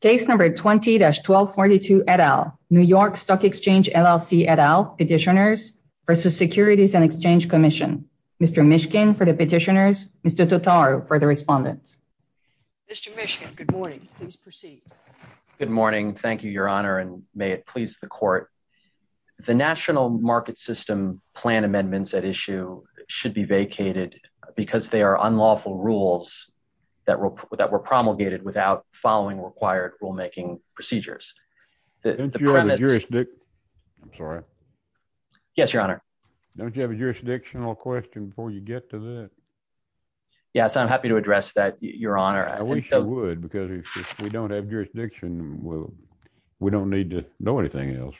Case number 20-1242 et al, New York Stock Exchange LLC et al, Petitioners v. Securities and Exchange Commission. Mr. Mishkin for the petitioners, Mr. Totaru for the respondents. Mr. Mishkin, good morning, please proceed. Good morning, thank you, your honor, and may it please the court. The National Market System plan amendments at issue should be vacated because they are unlawful rules that were promulgated without following required rulemaking procedures. The premise- Don't you have a jurisdictional, I'm sorry. Yes, your honor. Don't you have a jurisdictional question before you get to that? Yes, I'm happy to address that, your honor. I wish you would, because if we don't have jurisdiction, we don't need to know anything else.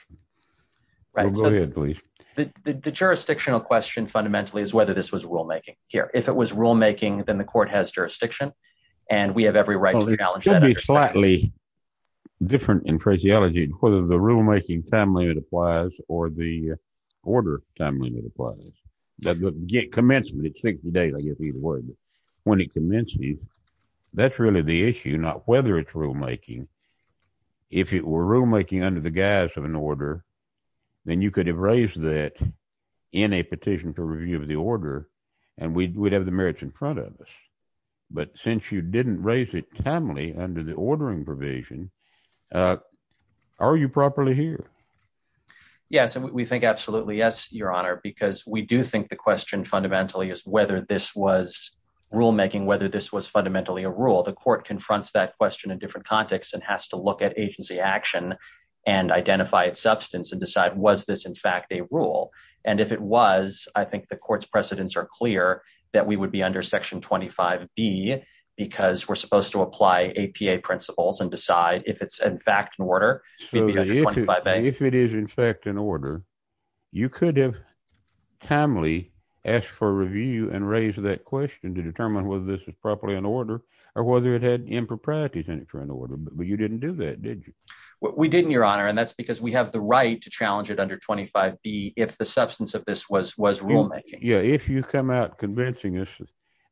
Go ahead, please. The jurisdictional question fundamentally is whether this was rulemaking. Here, if it was rulemaking, then the court has jurisdiction, and we have every right to challenge that- Well, it could be slightly different in phraseology, whether the rulemaking time limit applies or the order time limit applies. The commencement, it's 60 days, I guess, either way. When it commences, that's really the issue, not whether it's rulemaking. If it were rulemaking under the guise of an order, then you could have raised that in a petition for review of the order, and we'd have the merits in front of us. But since you didn't raise it timely under the ordering provision, are you properly here? Yes, we think absolutely yes, your honor, because we do think the question fundamentally is whether this was rulemaking, whether this was fundamentally a rule. The court confronts that question in different contexts and has to look at agency action and identify its substance and decide, was this in fact a rule? And if it was, I think the court's precedents are clear that we would be under section 25B because we're supposed to apply APA principles and decide if it's in fact an order, we'd be under 25A. If it is in fact an order, you could have timely asked for a review and raised that question to determine whether this was properly an order or whether it had improprieties in it for an order, but you didn't do that, did you? We didn't, your honor, and that's because we have the right to challenge it under 25B if the substance of this was rulemaking. Yeah, if you come out convincing us,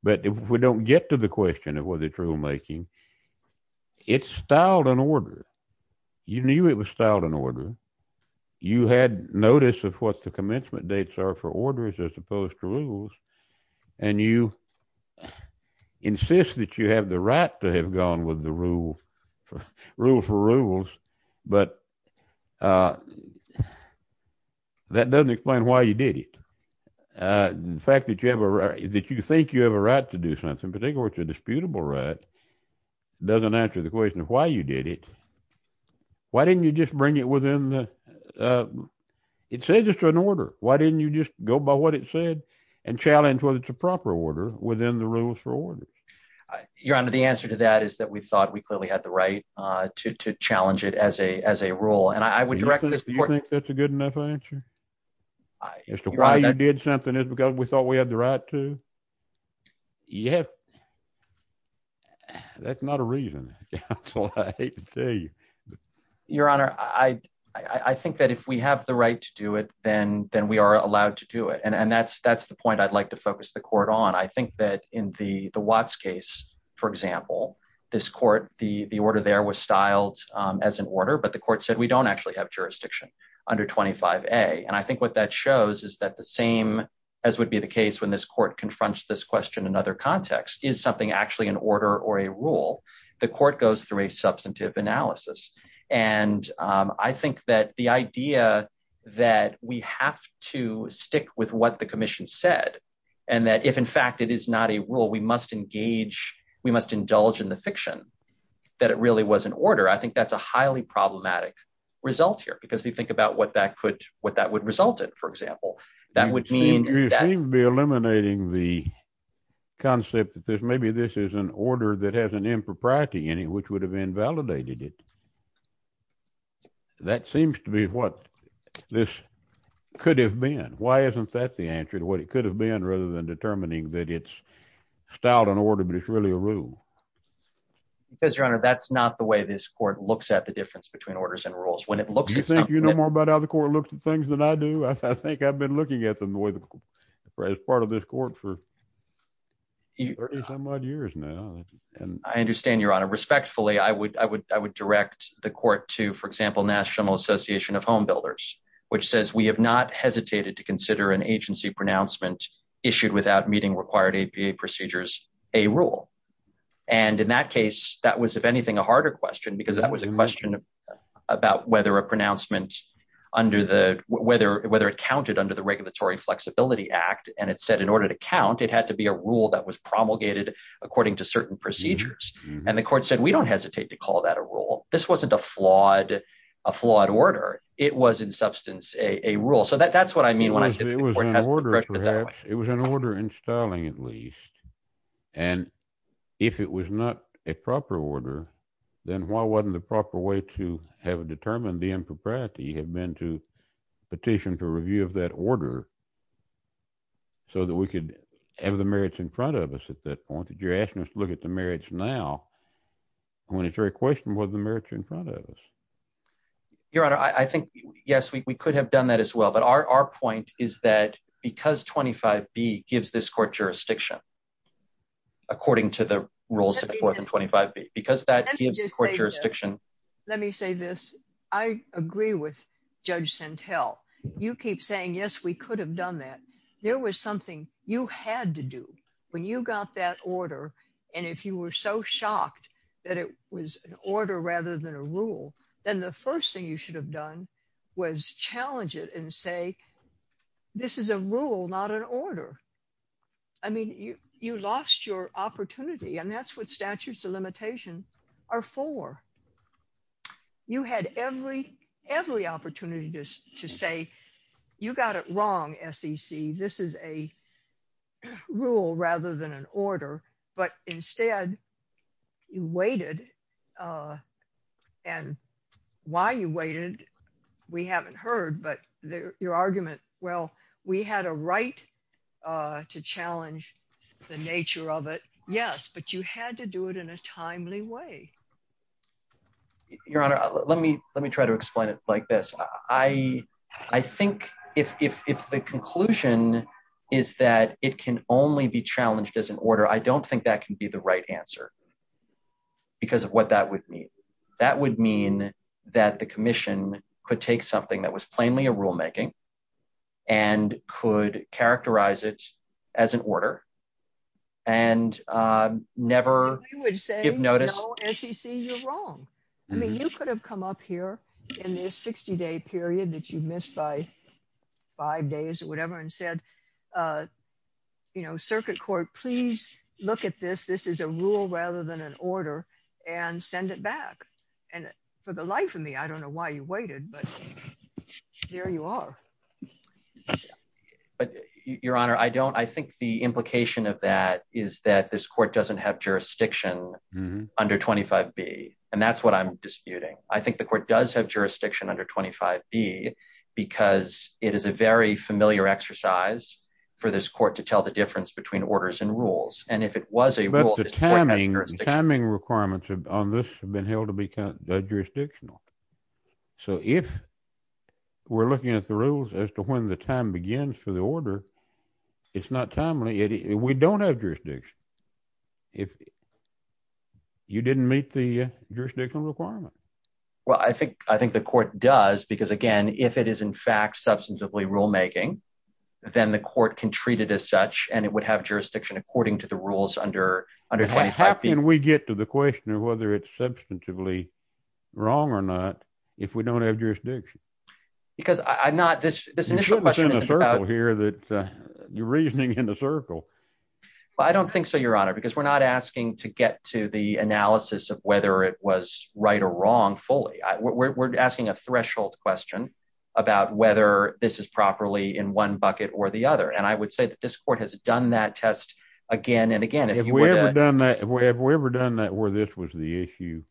but if we don't get to the question of whether it's rulemaking it's styled an order. You knew it was styled an order. You had notice of what the commencement dates are for orders as opposed to rules, and you insist that you have the right to have gone with the rule for rules, but that doesn't explain why you did it. The fact that you think you have a right to do something, but they go to a disputable right, doesn't answer the question of why you did it. Why didn't you just bring it within the, it says it's an order. Why didn't you just go by what it said and challenge whether it's a proper order within the rules for orders? Your honor, the answer to that is that we thought we clearly had the right to challenge it as a rule. And I would direct this court- Do you think that's a good enough answer? As to why you did something is because we thought we had the right to? Yeah. That's not a reason, counsel, I hate to tell you. Your honor, I think that if we have the right to do it, then we are allowed to do it. And that's the point I'd like to focus the court on. I think that in the Watts case, for example, this court, the order there was styled as an order, but the court said we don't actually have jurisdiction under 25A. And I think what that shows is that the same, as would be the case when this court confronts this question in other contexts, is something actually an order or a rule? The court goes through a substantive analysis. And I think that the idea that we have to stick with what the commission said, and that if in fact it is not a rule, we must engage, we must indulge in the fiction, that it really was an order. I think that's a highly problematic result here because you think about what that would result in, for example. That would mean- You seem to be eliminating the concept that there's maybe this is an order that has an impropriety in it, which would have invalidated it. That seems to be what this could have been. Why isn't that the answer to what it could have been rather than determining that it's styled an order, but it's really a rule? Because your honor, that's not the way this court looks at the difference between orders and rules. When it looks at something- Do you think you know more about how the court looks at things than I do? I think I've been looking at them as part of this court for 30 some odd years now. I understand your honor. Respectfully, I would direct the court to, for example, National Association of Home Builders, which says we have not hesitated to consider an agency pronouncement issued without meeting required APA procedures a rule. And in that case, that was, if anything, a harder question, because that was a question about whether a pronouncement under the, whether it counted under the Regulatory Flexibility Act, and it said in order to count, it had to be a rule that was promulgated according to certain procedures. And the court said, we don't hesitate to call that a rule. This wasn't a flawed order. It was in substance a rule. So that's what I mean when I say the court has corrected it that way. It was an order in styling at least. And if it was not a proper order, then why wasn't the proper way to have determined the impropriety had been to petition to review of that order so that we could have the merits in front of us at that point that you're asking us to look at the merits now when it's very questionable whether the merits are in front of us. Your honor, I think, yes, we could have done that as well. But our point is that because 25B gives this court jurisdiction according to the rules of the fourth and 25B, because that gives court jurisdiction. Let me say this. I agree with Judge Sentelle. You keep saying, yes, we could have done that. There was something you had to do when you got that order. And if you were so shocked that it was an order rather than a rule, then the first thing you should have done was challenge it and say, this is a rule, not an order. I mean, you lost your opportunity and that's what statutes of limitation are for. You had every opportunity to say, you got it wrong, SEC. This is a rule rather than an order. But instead you waited and why you waited, we haven't heard, but your argument, well, we had a right to challenge the nature of it. Yes, but you had to do it in a timely way. Your honor, let me try to explain it like this. I think if the conclusion is that it can only be challenged as an order, I don't think that can be the right answer. Because of what that would mean. That would mean that the commission could take something that was plainly a rule-making and could characterize it as an order and never give notice. No, SEC, you're wrong. I mean, you could have come up here in this 60-day period that you missed by five days or whatever and said, circuit court, please look at this. This is a rule rather than an order and send it back. And for the life of me, I don't know why you waited, but there you are. But your honor, I think the implication of that is that this court doesn't have jurisdiction under 25B. And that's what I'm disputing. I think the court does have jurisdiction under 25B because it is a very familiar exercise for this court to tell the difference between orders and rules. And if it was a rule, this court has jurisdiction. But the timing requirements on this have been held to be jurisdictional. So if we're looking at the rules as to when the time begins for the order, it's not timely. We don't have jurisdiction. You didn't meet the jurisdictional requirement. Well, I think the court does, because again, if it is in fact substantively rule-making, then the court can treat it as such and it would have jurisdiction according to the rules under 25B. How can we get to the question of whether it's substantively wrong or not if we don't have jurisdiction? Because I'm not, this initial question is about- You're reasoning in a circle. Well, I don't think so, your honor, because we're not asking to get to the analysis of whether it was right or wrong fully. We're asking a threshold question about whether this is properly in one bucket or the other. And I would say that this court has done that test again and again. If we ever done that where this was the issue,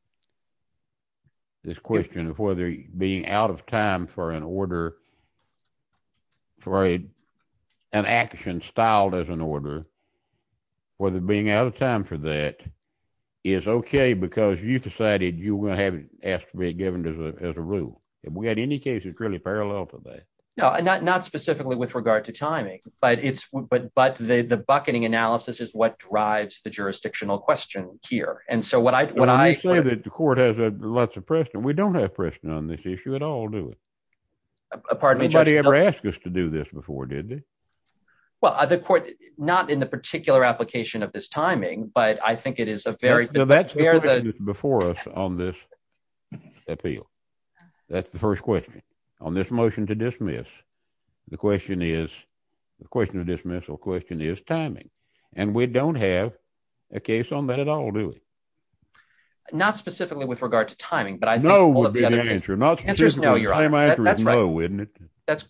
this question of whether being out of time for an order, for an action styled as an order, whether being out of time for that is okay, because you decided you were gonna have it asked to be given as a rule. If we had any case, it's really parallel to that. No, not specifically with regard to timing, but the bucketing analysis is what drives the jurisdictional question here. And so when I- When you say that the court has lots of precedent, we don't have precedent on this issue at all, do we? Pardon me, Judge- Nobody ever asked us to do this before, did they? Well, the court, not in the particular application of this timing, but I think it is a very- No, that's the question that's before us on this appeal. That's the first question. On this motion to dismiss, the question is, the question of dismissal question is timing. And we don't have a case on that at all, do we? Not specifically with regard to timing, but I think- No would be the answer. Not specifically- The answer is no, Your Honor. The answer is no, isn't it?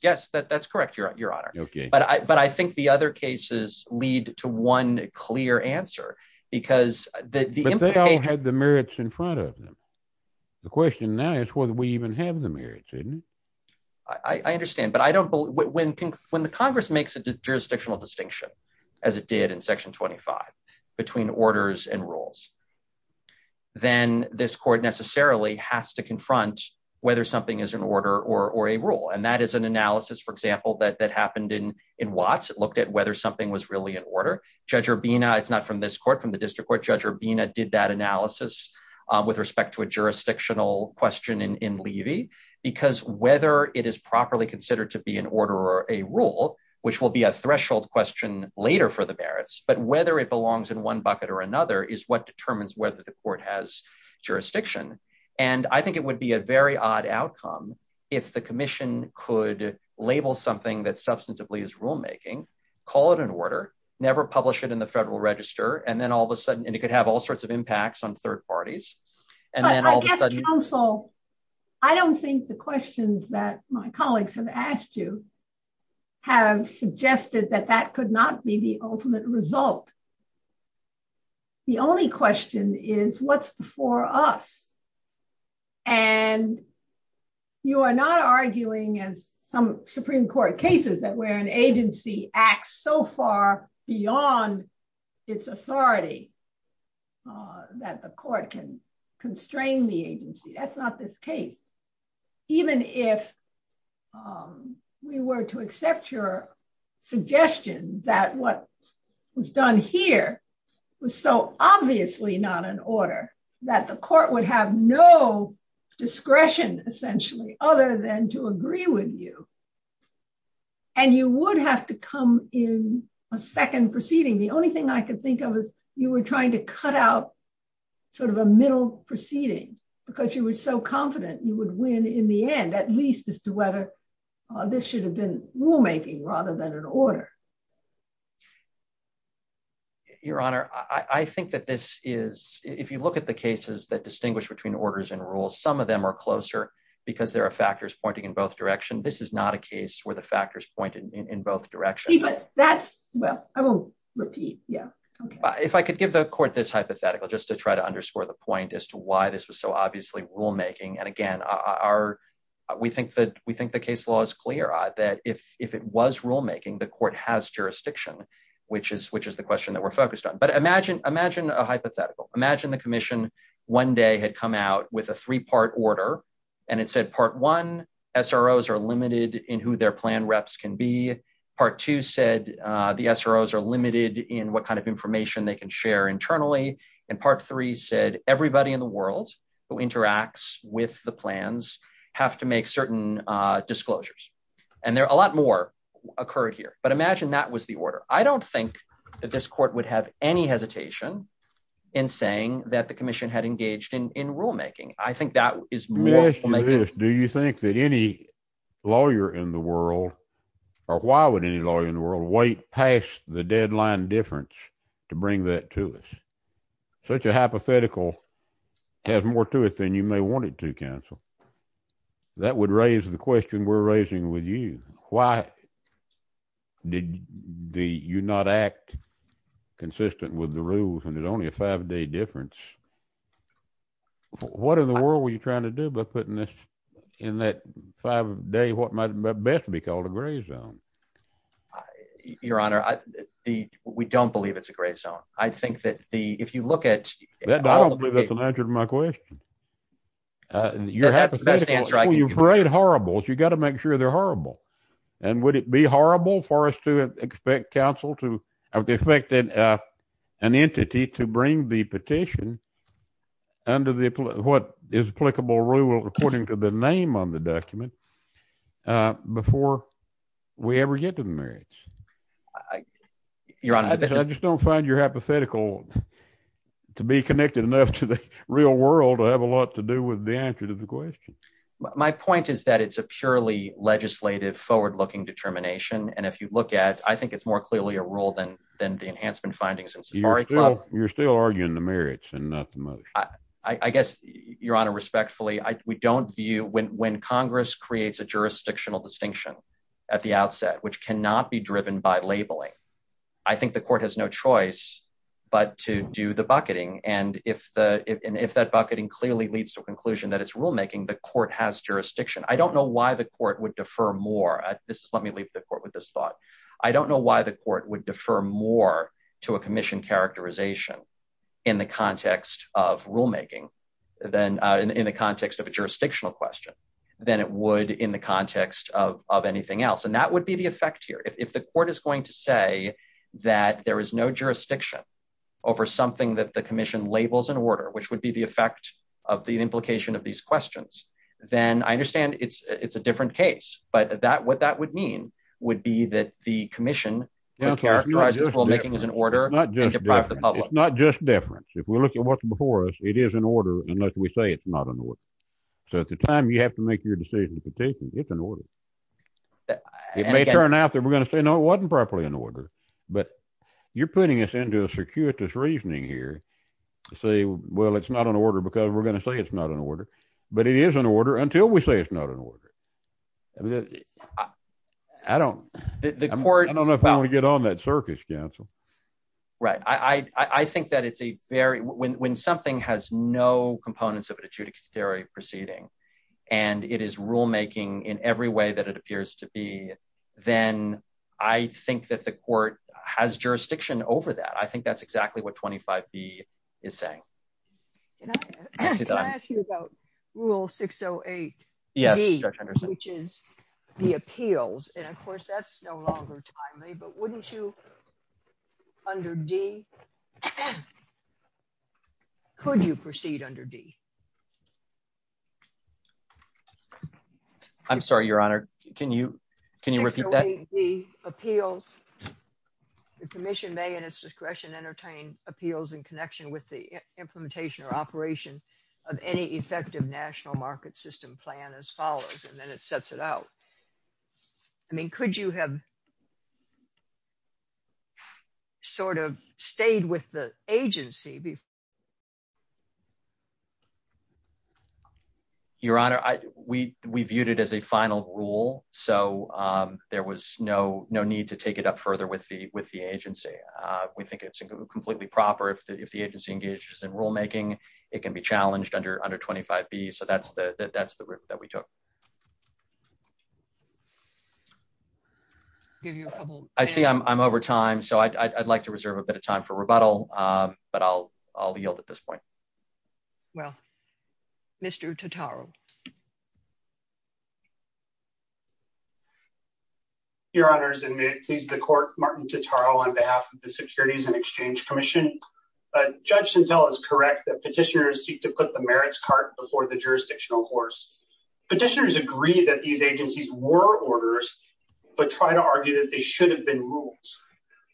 Yes, that's correct, Your Honor. But I think the other cases lead to one clear answer, because the implication- But they all had the merits in front of them. The question now is whether we even have the merits, isn't it? I understand, but I don't believe- When the Congress makes a jurisdictional distinction, as it did in Section 25, between orders and rules, then this court necessarily has to confront whether something is an order or a rule. And that is an analysis, for example, that happened in Watts. It looked at whether something was really an order. Judge Urbina, it's not from this court, from the district court, Judge Urbina did that analysis with respect to a jurisdictional question in Levy, because whether it is properly considered to be an order or a rule, which will be a threshold question later for the merits, but whether it belongs in one bucket or another is what determines whether the court has jurisdiction. And I think it would be a very odd outcome if the commission could label something that substantively is rulemaking, never publish it in the Federal Register, and then all of a sudden, and it could have all sorts of impacts on third parties, and then all of a sudden- But I guess, counsel, I don't think the questions that my colleagues have asked you have suggested that that could not be the ultimate result. The only question is what's before us. And you are not arguing, as some Supreme Court cases, that where an agency acts so far beyond its authority, that the court can constrain the agency. That's not this case. Even if we were to accept your suggestion that what was done here was so obviously not an order, that the court would have no discretion, essentially, other than to agree with you, and you would have to come in a second proceeding. The only thing I could think of was you were trying to cut out sort of a middle proceeding because you were so confident you would win in the end, at least as to whether this should have been rulemaking rather than an order. Your Honor, I think that this is, if you look at the cases that distinguish between orders and rules, some of them are closer because there are factors pointing in both direction. This is not a case where the factors point in both directions. That's, well, I will repeat, yeah. If I could give the court this hypothetical just to try to underscore the point as to why this was so obviously rulemaking. And again, we think the case law is clear that if it was rulemaking, the court has jurisdiction, which is the question that we're focused on. But imagine a hypothetical. Imagine the commission one day had come out with a three-part order, and it said part one, SROs are limited in who their plan reps can be. Part two said the SROs are limited in what kind of information they can share internally. And part three said everybody in the world who interacts with the plans have to make certain disclosures. And a lot more occurred here, but imagine that was the order. I don't think that this court would have any hesitation in saying that the commission had engaged in rulemaking. I think that is more rulemaking. Do you think that any lawyer in the world, or why would any lawyer in the world wait past the deadline difference to bring that to us? Such a hypothetical has more to it than you may want it to, counsel. That would raise the question we're raising with you. Why did you not act consistent with the rules and did only a five-day difference? What in the world were you trying to do by putting this in that five-day, what might best be called a gray zone? Your Honor, we don't believe it's a gray zone. I think that the, if you look at all of the- I don't believe that's an answer to my question. You're hypothetical, you parade horribles. You gotta make sure they're horrible. And would it be horrible for us to expect counsel to, I would expect an entity to bring the petition under what is applicable rule according to the name on the document before we ever get to the merits. Your Honor- I just don't find your hypothetical to be connected enough to the real world to have a lot to do with the answer to the question. My point is that it's a purely legislative forward-looking determination. And if you look at, I think it's more clearly a rule than the enhancement findings in Safari Club. You're still arguing the merits and not the motion. I guess, Your Honor, respectfully, we don't view, when Congress creates a jurisdictional distinction at the outset, which cannot be driven by labeling, I think the court has no choice but to do the bucketing. And if that bucketing clearly leads to a conclusion that it's rulemaking, the court has jurisdiction. I don't know why the court would defer more. This is, let me leave the court with this thought. I don't know why the court would defer more to a commission characterization in the context of rulemaking, then in the context of a jurisdictional question than it would in the context of anything else. And that would be the effect here. If the court is going to say that there is no jurisdiction over something that the commission labels in order, which would be the effect of the implication of these questions, then I understand it's a different case. But what that would mean would be that the commission characterizes rulemaking as an order and deprives the public. It's not just deference. If we look at what's before us, it is an order, unless we say it's not an order. So at the time you have to make your decision in the petition, it's an order. It may turn out that we're going to say, no, it wasn't properly in order, but you're putting us into a circuitous reasoning here to say, well, it's not an order because we're going to say it's not an order, but it is an order until we say it's not an order. I don't know if I want to get on that circus, counsel. Right. I think that it's a very, when something has no components of an adjudicatory proceeding and it is rulemaking in every way that it appears to be, then I think that the court has jurisdiction over that. I think that's exactly what 25B is saying. Can I ask you about rule 608D, which is the appeals. And of course that's no longer timely, but wouldn't you under D, could you proceed under D? I'm sorry, your honor. Can you repeat that? 608D appeals, the commission may in its discretion entertain appeals in connection with the implementation or operation of any effective national market system plan as follows, and then it sets it out. I mean, could you have sort of stayed with the agency before? Your honor, we viewed it as a final rule. So there was no need to take it up further with the agency. We think it's completely proper if the agency engages in rulemaking, it can be challenged under 25B. So that's the route that we took. Give you a couple. I see I'm over time. So I'd like to reserve a bit of time for rebuttal, but I'll yield at this point. Well, Mr. Totaro. Your honors, and may it please the court, Martin Totaro on behalf of the Securities and Exchange Commission. Judge Santel is correct that petitioners seek to put the merits cart before the jurisdictional horse. Petitioners agree that these agencies were orders, but try to argue that they should have been rules.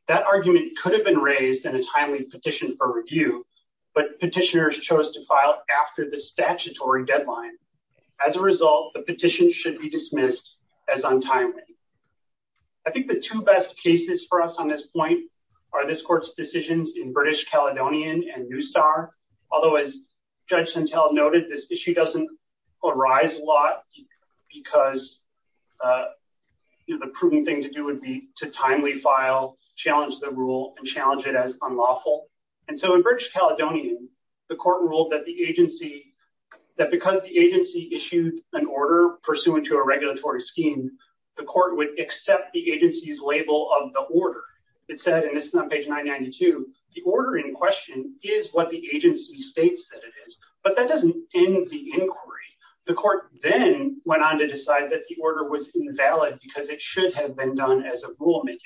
That argument could have been raised in a timely petition for review, but petitioners chose to file after the statutory deadline. As a result, the petition should be dismissed as untimely. I think the two best cases for us on this point are this court's decisions in British Caledonian and New Star. Although as Judge Santel noted, this issue doesn't arise a lot because the prudent thing to do would be to timely file, challenge the rule and challenge it as unlawful. And so in British Caledonian, the court ruled that because the agency issued an order pursuant to a regulatory scheme, the court would accept the agency's label of the order. It said, and this is on page 992, the order in question is what the agency states that it is, but that doesn't end the inquiry. The court then went on to decide that the order was invalid because it should have been done as a rulemaking.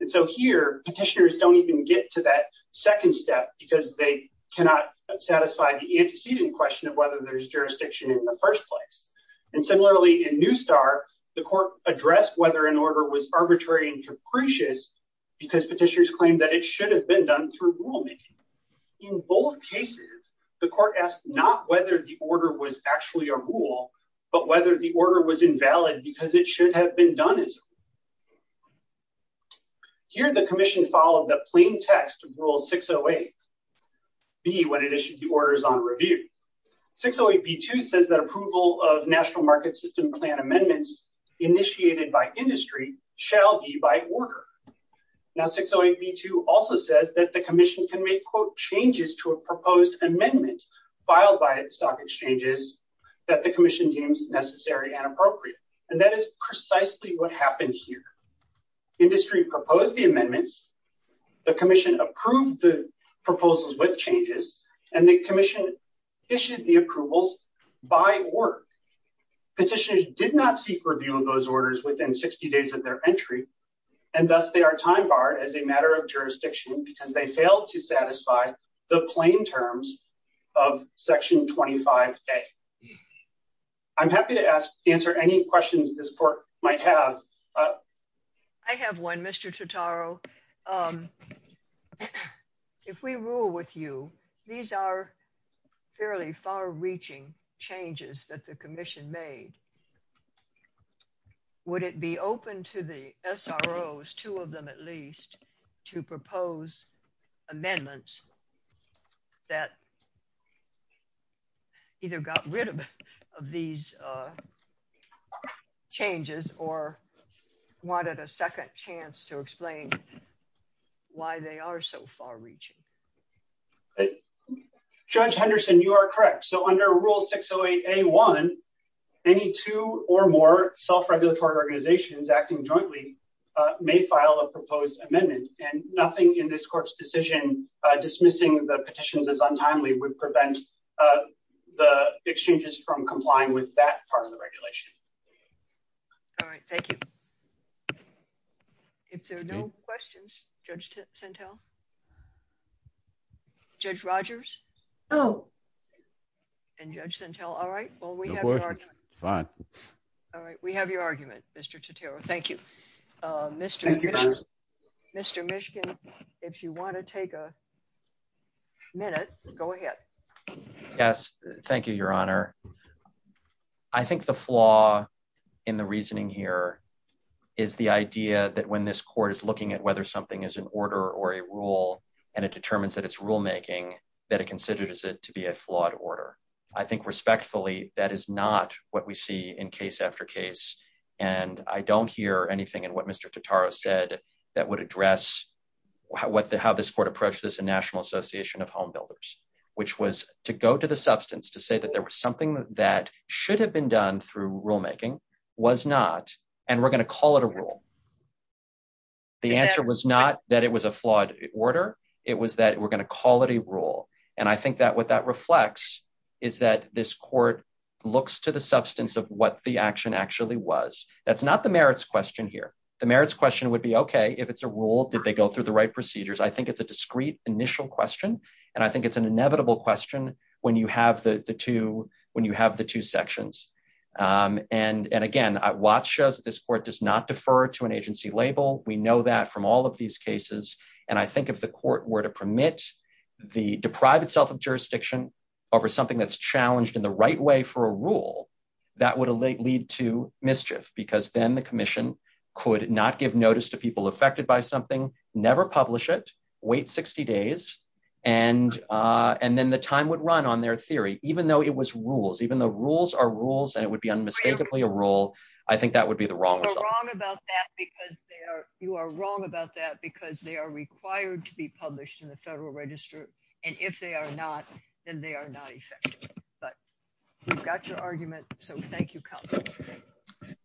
And so here, petitioners don't even get to that second step because they cannot satisfy the antecedent question of whether there's jurisdiction in the first place. And similarly in New Star, the court addressed whether an order was arbitrary and capricious because petitioners claimed that it should have been done through rulemaking. In both cases, the court asked not whether the order was actually a rule, but whether the order was invalid because it should have been done as a rule. Here, the commission followed the plain text of rule 608B when it issued the orders on review. 608B2 says that approval of national market system plan amendments initiated by industry shall be by order. Now, 608B2 also says that the commission can make quote changes to a proposed amendment filed by stock exchanges that the commission deems necessary and appropriate. And that is precisely what happened here. Industry proposed the amendments, the commission approved the proposals with changes and the commission issued the approvals by work. Petitioners did not seek review of those orders within 60 days of their entry. And thus they are time barred as a matter of jurisdiction because they failed to satisfy the plain terms of section 25A. I'm happy to answer any questions this court might have. I have one, Mr. Totaro. If we rule with you, these are fairly far reaching changes that the commission made. Would it be open to the SROs, two of them at least, to propose amendments that either got rid of these changes or wanted a second chance to explain why they are so far reaching? Judge Henderson, you are correct. So under rule 608A1, any two or more self-regulatory organizations acting jointly may file a proposed amendment and nothing in this court's decision dismissing the petitions as untimely would prevent the exchanges from complying with that part of the regulation. All right, thank you. If there are no questions, Judge Sentelle? Judge Rogers? No. And Judge Sentelle, all right. Well, we have your argument. All right, we have your argument, Mr. Totaro. Thank you. Mr. Mishkin, if you wanna take a minute, go ahead. Yes, thank you, Your Honor. I think the flaw in the reasoning here is the idea that when this court is looking at whether something is an order or a rule and it determines that it's rulemaking, that it considers it to be a flawed order. I think respectfully, that is not what we see in case after case. And I don't hear anything in what Mr. Totaro said that would address how this court approached this in National Association of Home Builders, which was to go to the substance, to say that there was something that should have been done through rulemaking was not, and we're gonna call it a rule. The answer was not that it was a flawed order. It was that we're gonna call it a rule. And I think that what that reflects is that this court looks to the substance of what the action actually was. That's not the merits question here. The merits question would be, okay, if it's a rule, did they go through the right procedures? I think it's a discreet initial question. And I think it's an inevitable question when you have the two sections. And again, what shows this court does not defer to an agency label. We know that from all of these cases. And I think if the court were to permit the deprived self of jurisdiction over something that's challenged in the right way for a rule, that would lead to mischief because then the commission could not give notice to people affected by something, never publish it, wait 60 days. And then the time would run on their theory, even though it was rules, even though rules are rules and it would be unmistakably a rule, I think that would be the wrong result. You're wrong about that because they are, you are wrong about that because they are required to be published in the federal register. And if they are not, then they are not effective. But you've got your argument. So thank you counsel.